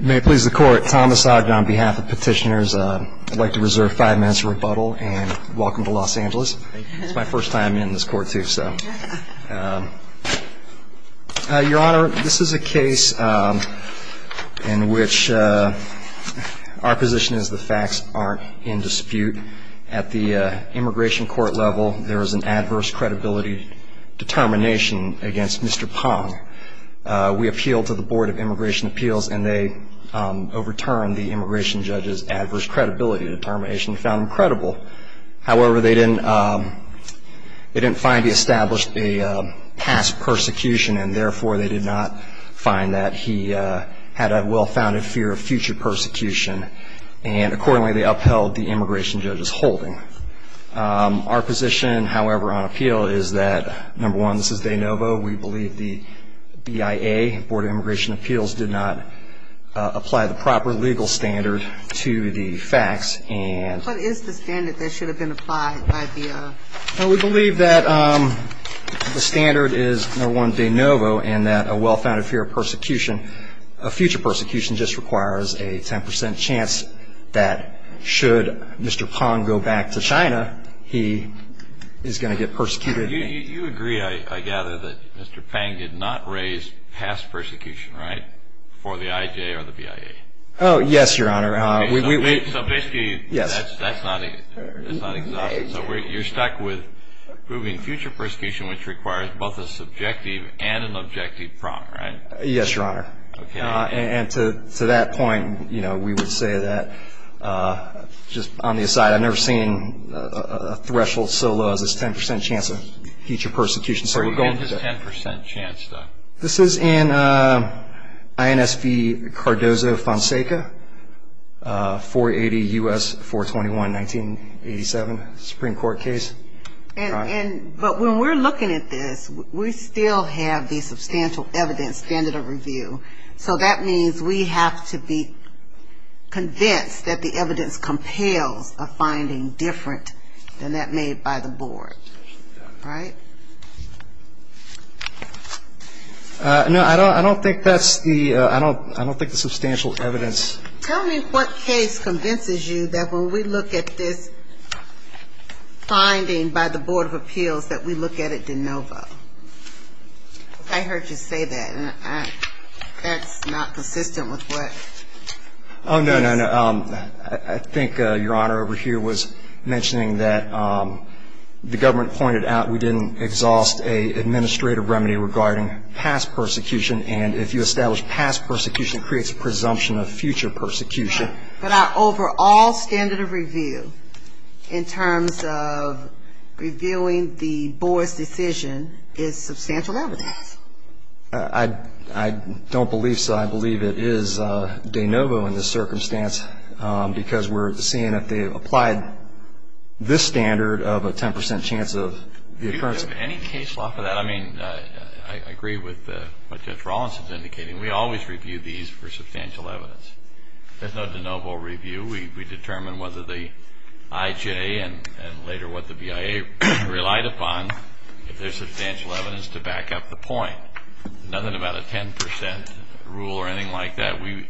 May it please the court, Thomas Ogden on behalf of petitioners. I'd like to reserve five minutes of rebuttal and welcome to Los Angeles. It's my first time in this court too, so. Your Honor, this is a case in which our position is the facts aren't in dispute. At the immigration court level, there is an adverse credibility determination against Mr. Pong. We appealed to the Board of Immigration Appeals and they overturned the immigration judge's adverse credibility determination. They found him credible. However, they didn't find he established a past persecution and therefore they did not find that he had a well-founded fear of future persecution. And accordingly, they upheld the immigration judge's holding. Our position, however, on appeal is that, number one, this is de novo. We believe the BIA, Board of Immigration Appeals, did not apply the proper legal standard to the facts and. What is the standard that should have been applied by BIA? We believe that the standard is, number one, de novo and that a well-founded fear of persecution, a future persecution just requires a 10% chance that should Mr. Pong go back to China, he is going to get persecuted. You agree, I gather, that Mr. Pong did not raise past persecution, right, for the IJ or the BIA? Oh, yes, Your Honor. So basically, that's not exhaustive. So you're stuck with proving future persecution, which requires both a subjective and an objective prompt, right? Yes, Your Honor. Okay. And to that point, you know, we would say that, just on the aside, I've never seen a threshold so low as this 10% chance of future persecution. Where do you get this 10% chance, though? This is in INSV Cardozo Fonseca, 480 U.S. 421, 1987, Supreme Court case. But when we're looking at this, we still have the substantial evidence standard of review. So that means we have to be convinced that the evidence compels a finding different than that made by the board, right? No, I don't think that's the ‑‑ I don't think the substantial evidence. Tell me what case convinces you that when we look at this finding by the Board of Appeals, that we look at it de novo? I heard you say that, and that's not consistent with what ‑‑ Oh, no, no, no. I think Your Honor over here was mentioning that the government pointed out we didn't exhaust an administrative remedy regarding past persecution, and if you establish past persecution, it creates a presumption of future persecution. Right. But our overall standard of review in terms of reviewing the board's decision is substantial evidence. I don't believe so. I believe it is de novo in this circumstance because we're seeing that they've applied this standard of a 10% chance of the occurrence. I mean, I agree with what Judge Rawlinson's indicating. We always review these for substantial evidence. There's no de novo review. We determine whether the IJ and later what the BIA relied upon, if there's substantial evidence, to back up the point. Nothing about a 10% rule or anything like that. We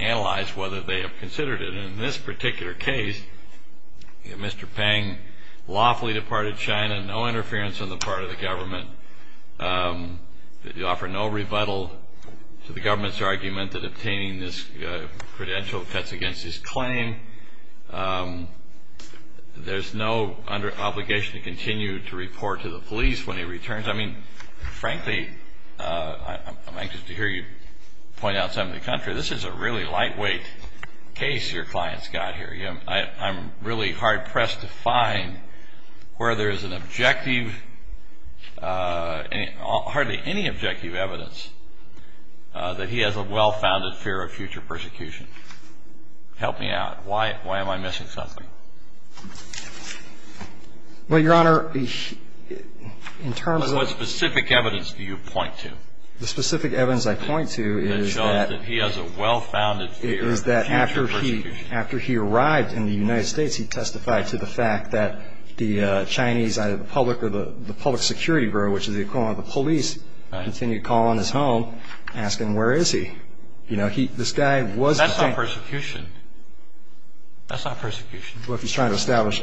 analyze whether they have considered it. In this particular case, Mr. Peng lawfully departed China, no interference on the part of the government. They offer no rebuttal to the government's argument that obtaining this credential cuts against his claim. There's no obligation to continue to report to the police when he returns. I mean, frankly, I'm anxious to hear you point out something to the contrary. This is a really lightweight case your client's got here. I'm really hard-pressed to find where there is an objective, hardly any objective evidence, that he has a well-founded fear of future persecution. Help me out. Why am I missing something? Well, Your Honor, in terms of the specific evidence do you point to? The specific evidence I point to is that he has a well-founded fear of future persecution. Is that after he arrived in the United States, he testified to the fact that the Chinese, either the public or the public security bureau, which is the equivalent of the police, continued to call on his home, asking where is he. You know, this guy was. That's not persecution. That's not persecution. Well, if he's trying to establish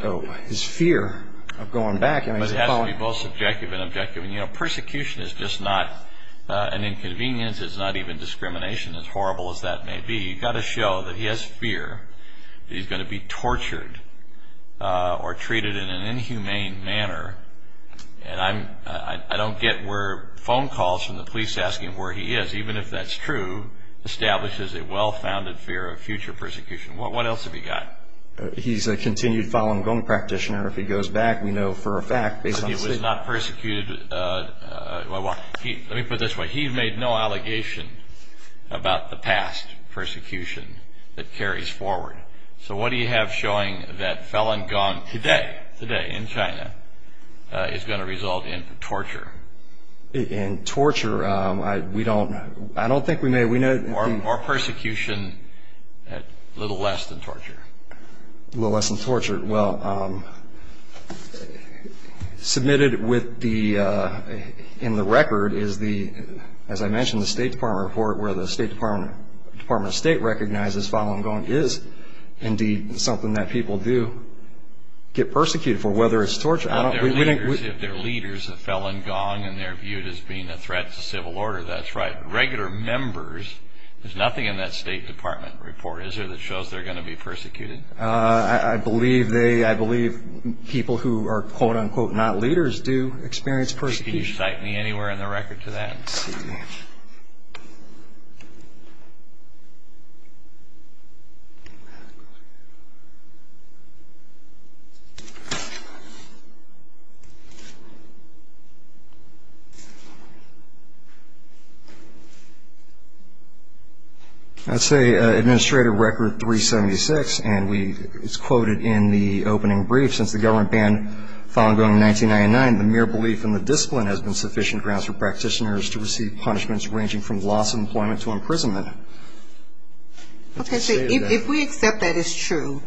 his fear of going back. It has to be both subjective and objective. You know, persecution is just not an inconvenience. It's not even discrimination, as horrible as that may be. You've got to show that he has fear that he's going to be tortured or treated in an inhumane manner. And I don't get where phone calls from the police asking where he is, even if that's true, establishes a well-founded fear of future persecution. What else have you got? He's a continued Falun Gong practitioner. If he goes back, we know for a fact, based on his statement. He was not persecuted. Let me put it this way. He made no allegation about the past persecution that carries forward. So what do you have showing that Falun Gong today, today in China, is going to result in torture? In torture, we don't know. I don't think we may. Or persecution at little less than torture. Little less than torture. Well, submitted in the record is the, as I mentioned, the State Department report, where the State Department of State recognizes Falun Gong is indeed something that people do get persecuted for, whether it's torture. If they're leaders of Falun Gong and they're viewed as being a threat to civil order, that's right. Regular members, there's nothing in that State Department report, is there, that shows they're going to be persecuted? I believe people who are, quote, unquote, not leaders do experience persecution. Can you cite me anywhere in the record to that? Let's see. That's Administrative Record 376, and it's quoted in the opening brief. Okay, so if we accept that it's true,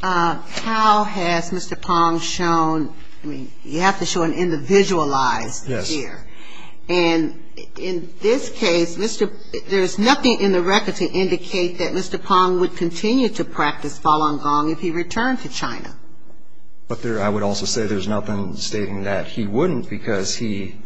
how has Mr. Pong shown, I mean, you have to show an individualized here. Yes. And in this case, there's nothing in the record to indicate that Mr. Pong would continue to practice Falun Gong if he returned to China. But I would also say there's nothing stating that he wouldn't, because he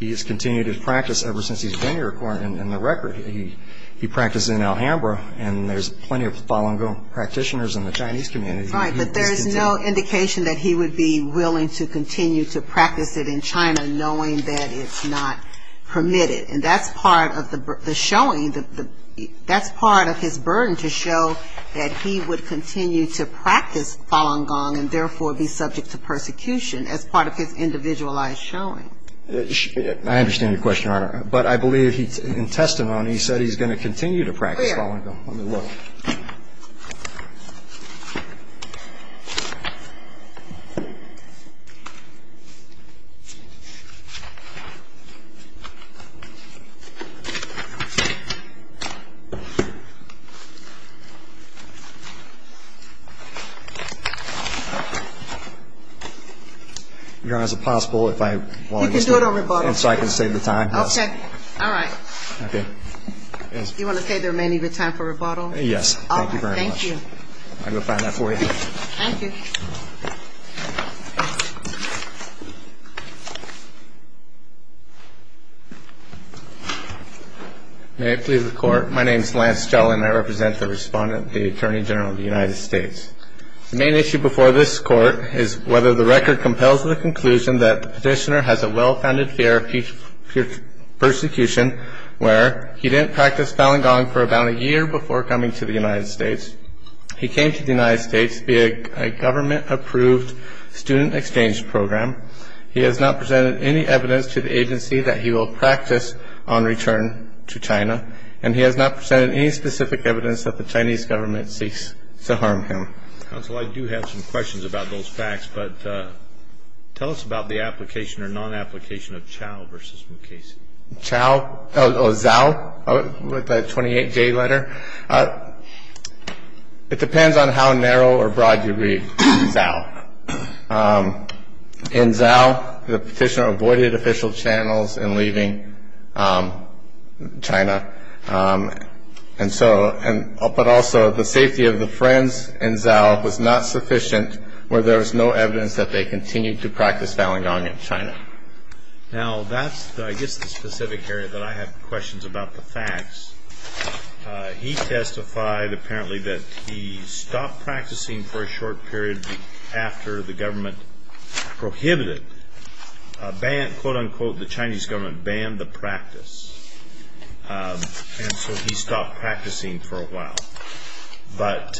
has continued his practice ever since he's been here in the record. He practiced in Alhambra, and there's plenty of Falun Gong practitioners in the Chinese community. Right, but there's no indication that he would be willing to continue to practice it in China, knowing that it's not permitted. And that's part of the showing. That's part of his burden to show that he would continue to practice Falun Gong and therefore be subject to persecution as part of his individualized showing. I understand your question, Your Honor, but I believe in testimony he said he's going to continue to practice Falun Gong. Where? Let me look. Your Honor, is it possible if I wanted to? You can do it on rebuttal. So I can save the time? Okay, all right. Okay. You want to say there may need to be time for rebuttal? Yes, thank you very much. All right, thank you. I'll go find that for you. Thank you. May it please the Court. My name is Lance Gell and I represent the Respondent, the Attorney General of the United States. The main issue before this Court is whether the record compels the conclusion that the petitioner has a well-founded fear of persecution where he didn't practice Falun Gong for about a year before coming to the United States. He came to the United States via a government-approved student exchange program. He has not presented any evidence to the agency that he will practice on return to China, and he has not presented any specific evidence that the Chinese government seeks to harm him. Counsel, I do have some questions about those facts, but tell us about the application or non-application of Chao v. Mukasey. Chao, or Zhao, with the 28-J letter. It depends on how narrow or broad you read Zhao. In Zhao, the petitioner avoided official channels in leaving China, but also the safety of the friends in Zhao was not sufficient where there was no evidence that they continued to practice Falun Gong in China. Now, that's, I guess, the specific area that I have questions about the facts. He testified, apparently, that he stopped practicing for a short period after the government prohibited, quote-unquote, the Chinese government banned the practice, and so he stopped practicing for a while. But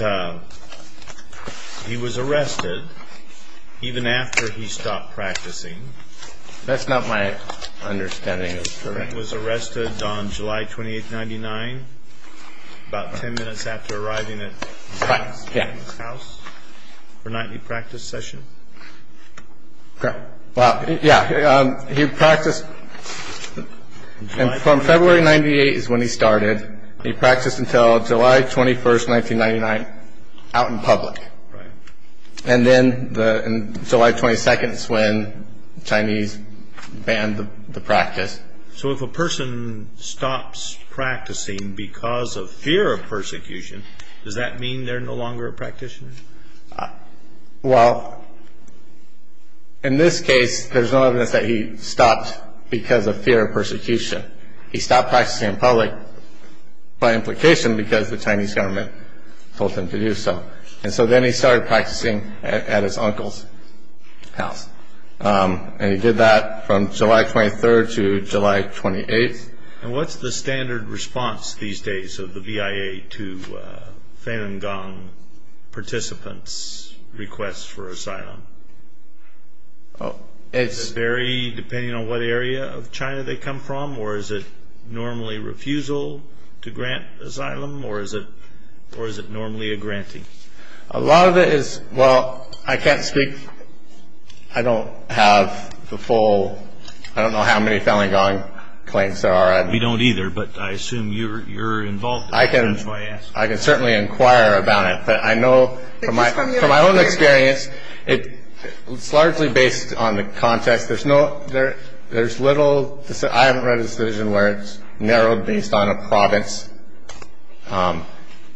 he was arrested even after he stopped practicing. That's not my understanding. He was arrested on July 28, 1999, about 10 minutes after arriving at his house for a nightly practice session. Okay. Well, yeah, he practiced. And from February 98 is when he started. And he practiced until July 21, 1999, out in public. Right. And then July 22 is when the Chinese banned the practice. So if a person stops practicing because of fear of persecution, does that mean they're no longer a practitioner? Well, in this case, there's no evidence that he stopped because of fear of persecution. He stopped practicing in public by implication because the Chinese government told him to do so. And so then he started practicing at his uncle's house. And he did that from July 23 to July 28. And what's the standard response these days of the VIA to Falun Gong participants' requests for asylum? Does it vary depending on what area of China they come from? Or is it normally refusal to grant asylum? Or is it normally a granting? A lot of it is, well, I can't speak, I don't have the full, I don't know how many Falun Gong claims there are. We don't either, but I assume you're involved. I can certainly inquire about it. But I know from my own experience, it's largely based on the context. There's little, I haven't read a decision where it's narrowed based on a province.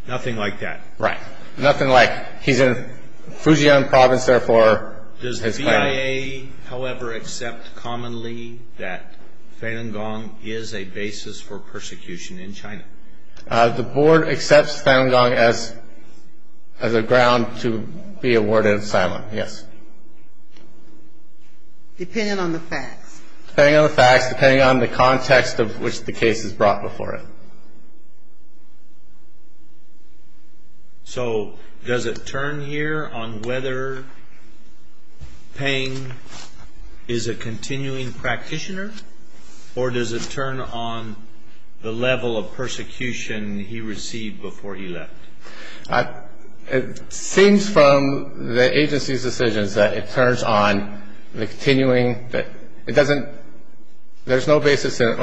Nothing like that. Right. Nothing like he's in Fujian province, therefore. Does the VIA, however, accept commonly that Falun Gong is a basis for persecution in China? The board accepts Falun Gong as a ground to be awarded asylum, yes. Depending on the facts. Depending on the facts, depending on the context of which the case is brought before it. So does it turn here on whether Peng is a continuing practitioner? Or does it turn on the level of persecution he received before he left? It seems from the agency's decisions that it turns on the continuing, it doesn't, there's no basis there.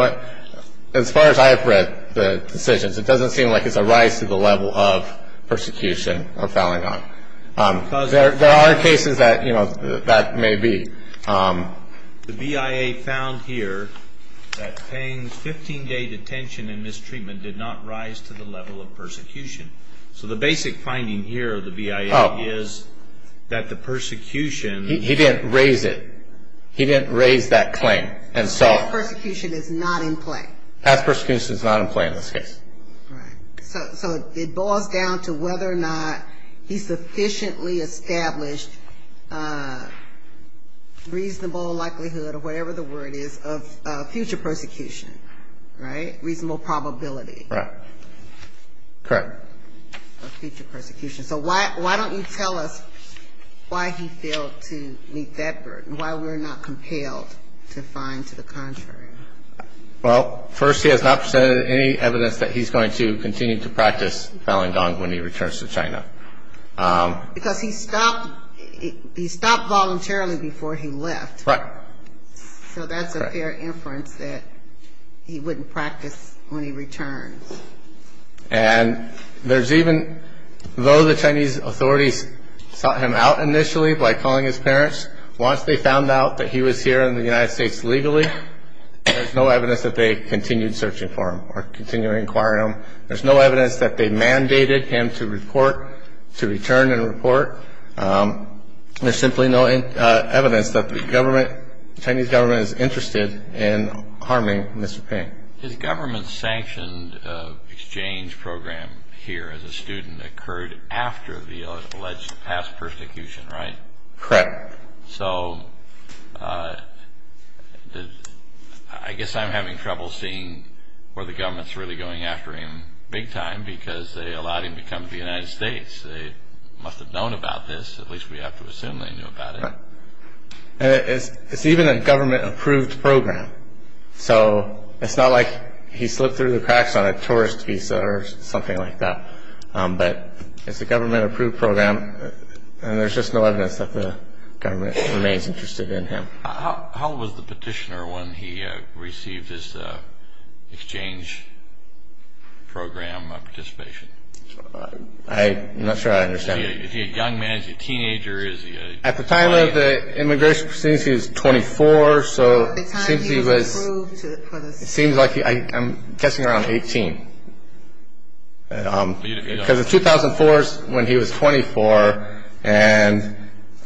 As far as I've read the decisions, it doesn't seem like it's a rise to the level of persecution of Falun Gong. There are cases that that may be. The VIA found here that Peng's 15-day detention and mistreatment did not rise to the level of persecution. So the basic finding here of the VIA is that the persecution. He didn't raise it. He didn't raise that claim. And so. Past persecution is not in play. Past persecution is not in play in this case. Right. So it boils down to whether or not he sufficiently established reasonable likelihood, or whatever the word is, of future persecution. Right? Reasonable probability. Right. Correct. Of future persecution. So why don't you tell us why he failed to meet that burden, why we're not compelled to find to the contrary? Well, first, he has not presented any evidence that he's going to continue to practice Falun Gong when he returns to China. Because he stopped voluntarily before he left. Right. So that's a fair inference that he wouldn't practice when he returns. And there's even, though the Chinese authorities sought him out initially by calling his parents, once they found out that he was here in the United States legally, there's no evidence that they continued searching for him or continued inquiring on him. There's no evidence that they mandated him to report, to return and report. There's simply no evidence that the Chinese government is interested in harming Mr. Peng. His government-sanctioned exchange program here as a student occurred after the alleged past persecution, right? Correct. So I guess I'm having trouble seeing where the government's really going after him big time, because they allowed him to come to the United States. They must have known about this. At least we have to assume they knew about it. It's even a government-approved program. So it's not like he slipped through the cracks on a tourist visa or something like that. But it's a government-approved program, and there's just no evidence that the government remains interested in him. How was the petitioner when he received his exchange program participation? I'm not sure I understand. Is he a young man? Is he a teenager? At the time of the immigration proceedings, he was 24, so it seems he was- At the time he was approved for the- It seems like he-I'm guessing around 18. Because in 2004 is when he was 24, and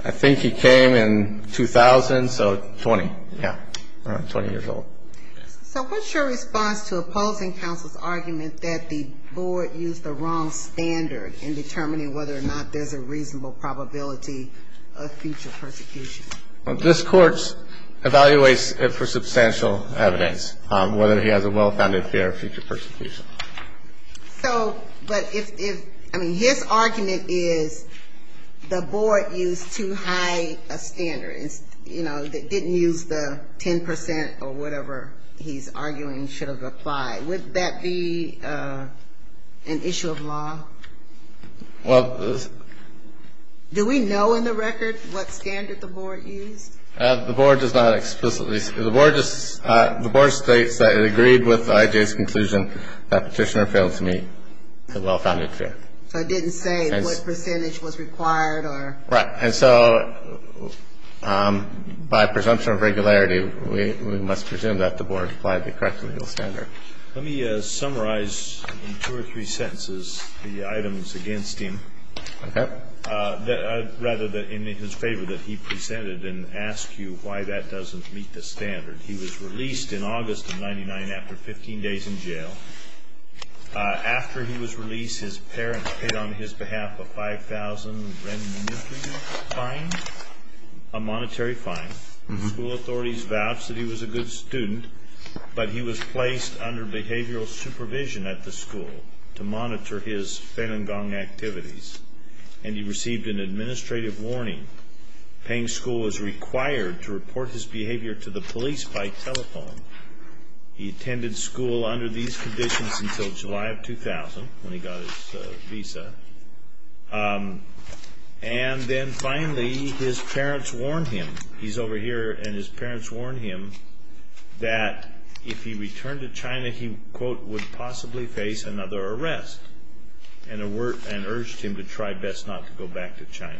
I think he came in 2000, so 20, yeah, 20 years old. So what's your response to opposing counsel's argument that the board used the wrong standard in determining whether or not there's a reasonable probability of future persecution? This Court evaluates it for substantial evidence, whether he has a well-founded fear of future persecution. So, but if-I mean, his argument is the board used too high a standard. You know, they didn't use the 10 percent or whatever he's arguing should have applied. Would that be an issue of law? Well- Do we know in the record what standard the board used? The board does not explicitly-the board just-the board states that it agreed with IJ's conclusion that petitioner failed to meet the well-founded fear. So it didn't say what percentage was required or- Right. And so by presumption of regularity, we must presume that the board applied the correct legal standard. Let me summarize in two or three sentences the items against him. Okay. Rather, in his favor, that he presented and ask you why that doesn't meet the standard. He was released in August of 99 after 15 days in jail. After he was released, his parents paid on his behalf a 5,000 renminbi fine, a monetary fine. The school authorities vouched that he was a good student, but he was placed under behavioral supervision at the school to monitor his Falun Gong activities, and he received an administrative warning. Paying school was required to report his behavior to the police by telephone. He attended school under these conditions until July of 2000 when he got his visa. And then finally, his parents warned him-he's over here-and his parents warned him that if he returned to China, he, quote, would possibly face another arrest and urged him to try best not to go back to China.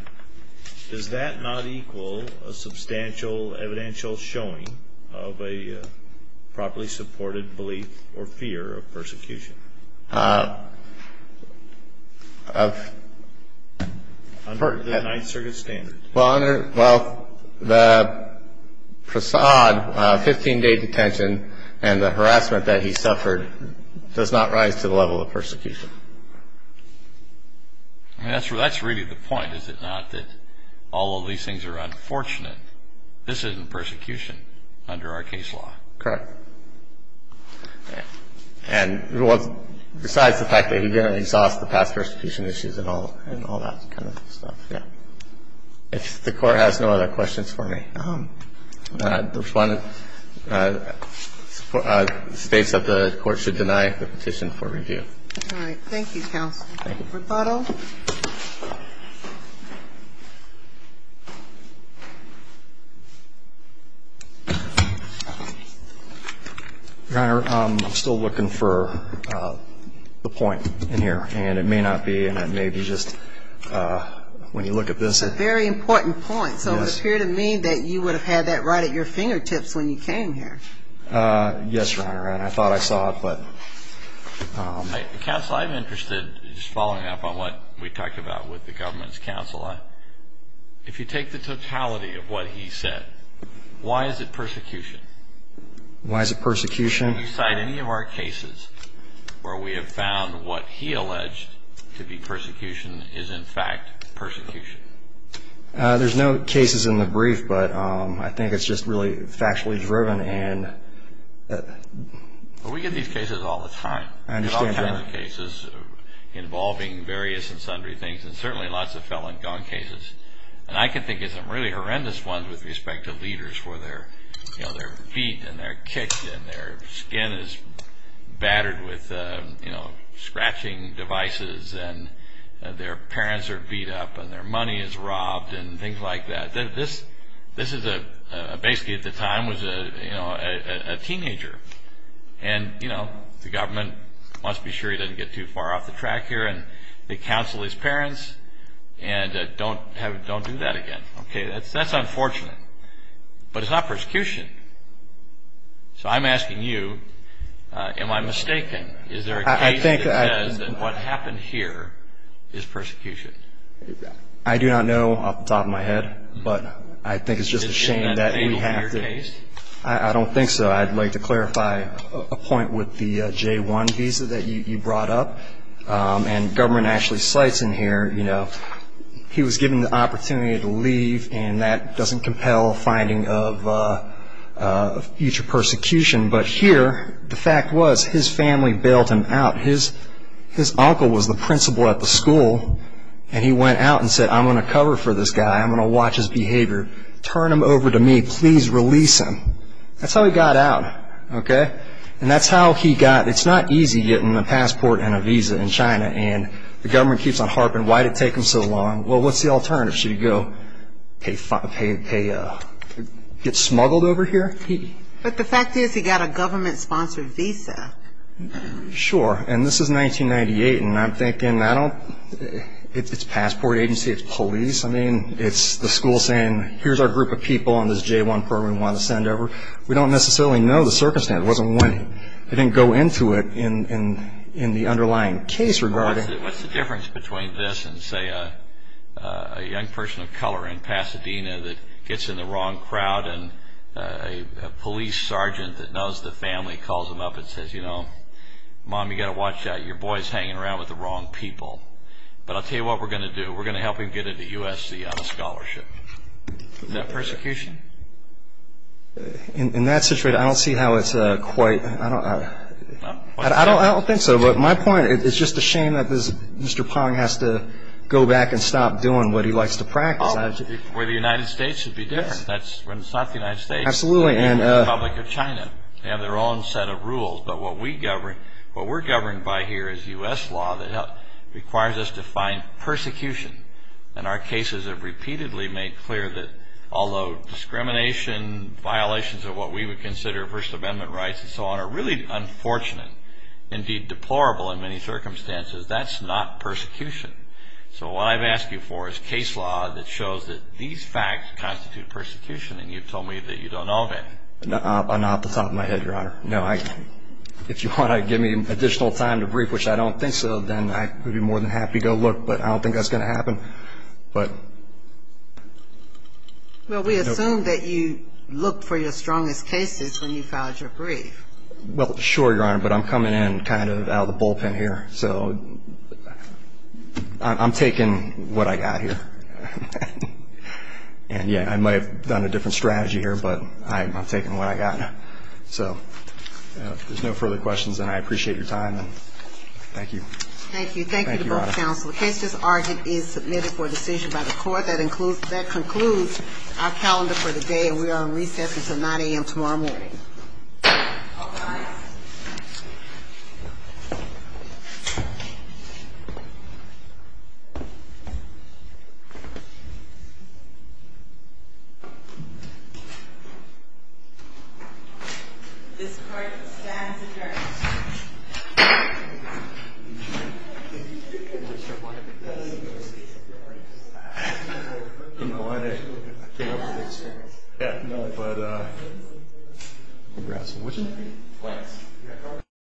Does that not equal a substantial evidential showing of a properly supported belief or fear of persecution? Under the Ninth Circuit standards. Well, under-well, the prasad, 15-day detention, and the harassment that he suffered does not rise to the level of persecution. I mean, that's really the point, is it not, that all of these things are unfortunate? This isn't persecution under our case law. Correct. And besides the fact that he didn't exhaust the past persecution issues and all that kind of stuff, yeah. If the Court has no other questions for me, the respondent states that the Court should deny the petition for review. All right. Thank you, Counsel. Thank you. Rebuttal. Your Honor, I'm still looking for the point in here. And it may not be, and it may be just when you look at this. It's a very important point. Yes. So it would appear to me that you would have had that right at your fingertips when you came here. Yes, Your Honor. And I thought I saw it, but. Counsel, I'm interested, just following up on what we talked about with the government's counsel, if you take the totality of what he said, why is it persecution? Why is it persecution? Can you cite any of our cases where we have found what he alleged to be persecution is, in fact, persecution? There's no cases in the brief, but I think it's just really factually driven. We get these cases all the time. I understand, Your Honor. We get all kinds of cases involving various and sundry things, and certainly lots of felon-gone cases. And I can think of some really horrendous ones with respect to leaders where their feet and their kicks and their skin is battered with scratching devices and their parents are beat up and their money is robbed and things like that. This is basically, at the time, was a teenager. And the government wants to be sure he doesn't get too far off the track here, and they counsel his parents and don't do that again. That's unfortunate. But it's not persecution. So I'm asking you, am I mistaken? Is there a case that says that what happened here is persecution? I do not know off the top of my head, but I think it's just a shame that we have to. Isn't that fatal to your case? I don't think so. I'd like to clarify a point with the J-1 visa that you brought up. And government actually cites in here, you know, he was given the opportunity to leave, and that doesn't compel a finding of future persecution. But here, the fact was his family bailed him out. His uncle was the principal at the school, and he went out and said, I'm going to cover for this guy, I'm going to watch his behavior. Turn him over to me. Please release him. That's how he got out, okay? And that's how he got, it's not easy getting a passport and a visa in China, and the government keeps on harping, why did it take him so long? Well, what's the alternative? Should he go get smuggled over here? But the fact is he got a government-sponsored visa. Sure. And this is 1998, and I'm thinking, I don't, it's a passport agency, it's police. I mean, it's the school saying, here's our group of people on this J-1 program we want to send over. We don't necessarily know the circumstance. It wasn't winning. They didn't go into it in the underlying case regarding it. What's the difference between this and, say, a young person of color in Pasadena that gets in the wrong crowd and a police sergeant that knows the family calls him up and says, you know, Mom, you've got to watch out. Your boy's hanging around with the wrong people. But I'll tell you what we're going to do. We're going to help him get into USC on a scholarship. Is that persecution? In that situation, I don't see how it's quite, I don't think so. But my point, it's just a shame that Mr. Pong has to go back and stop doing what he likes to practice. Well, the United States should be different. That's when it's not the United States, it's the Republic of China. They have their own set of rules. But what we're governed by here is U.S. law that requires us to find persecution. And our cases have repeatedly made clear that although discrimination, violations of what we would consider First Amendment rights and so on are really unfortunate, and indeed deplorable in many circumstances, that's not persecution. So what I've asked you for is case law that shows that these facts constitute persecution, and you've told me that you don't know of any. Not off the top of my head, Your Honor. No, if you want to give me additional time to brief, which I don't think so, then I would be more than happy to look, but I don't think that's going to happen. Well, we assume that you looked for your strongest cases when you filed your brief. Well, sure, Your Honor, but I'm coming in kind of out of the bullpen here. So I'm taking what I got here. And, yeah, I might have done a different strategy here, but I'm taking what I got. So if there's no further questions, then I appreciate your time. Thank you. Thank you. Thank you to both counsel. The case just argued is submitted for decision by the court. That concludes our calendar for the day, and we are on recess until 9 a.m. tomorrow morning. All rise. This court stands adjourned. I'm not sure why they did this. You know why they came up with this? Yeah, no, but congrats. Thanks.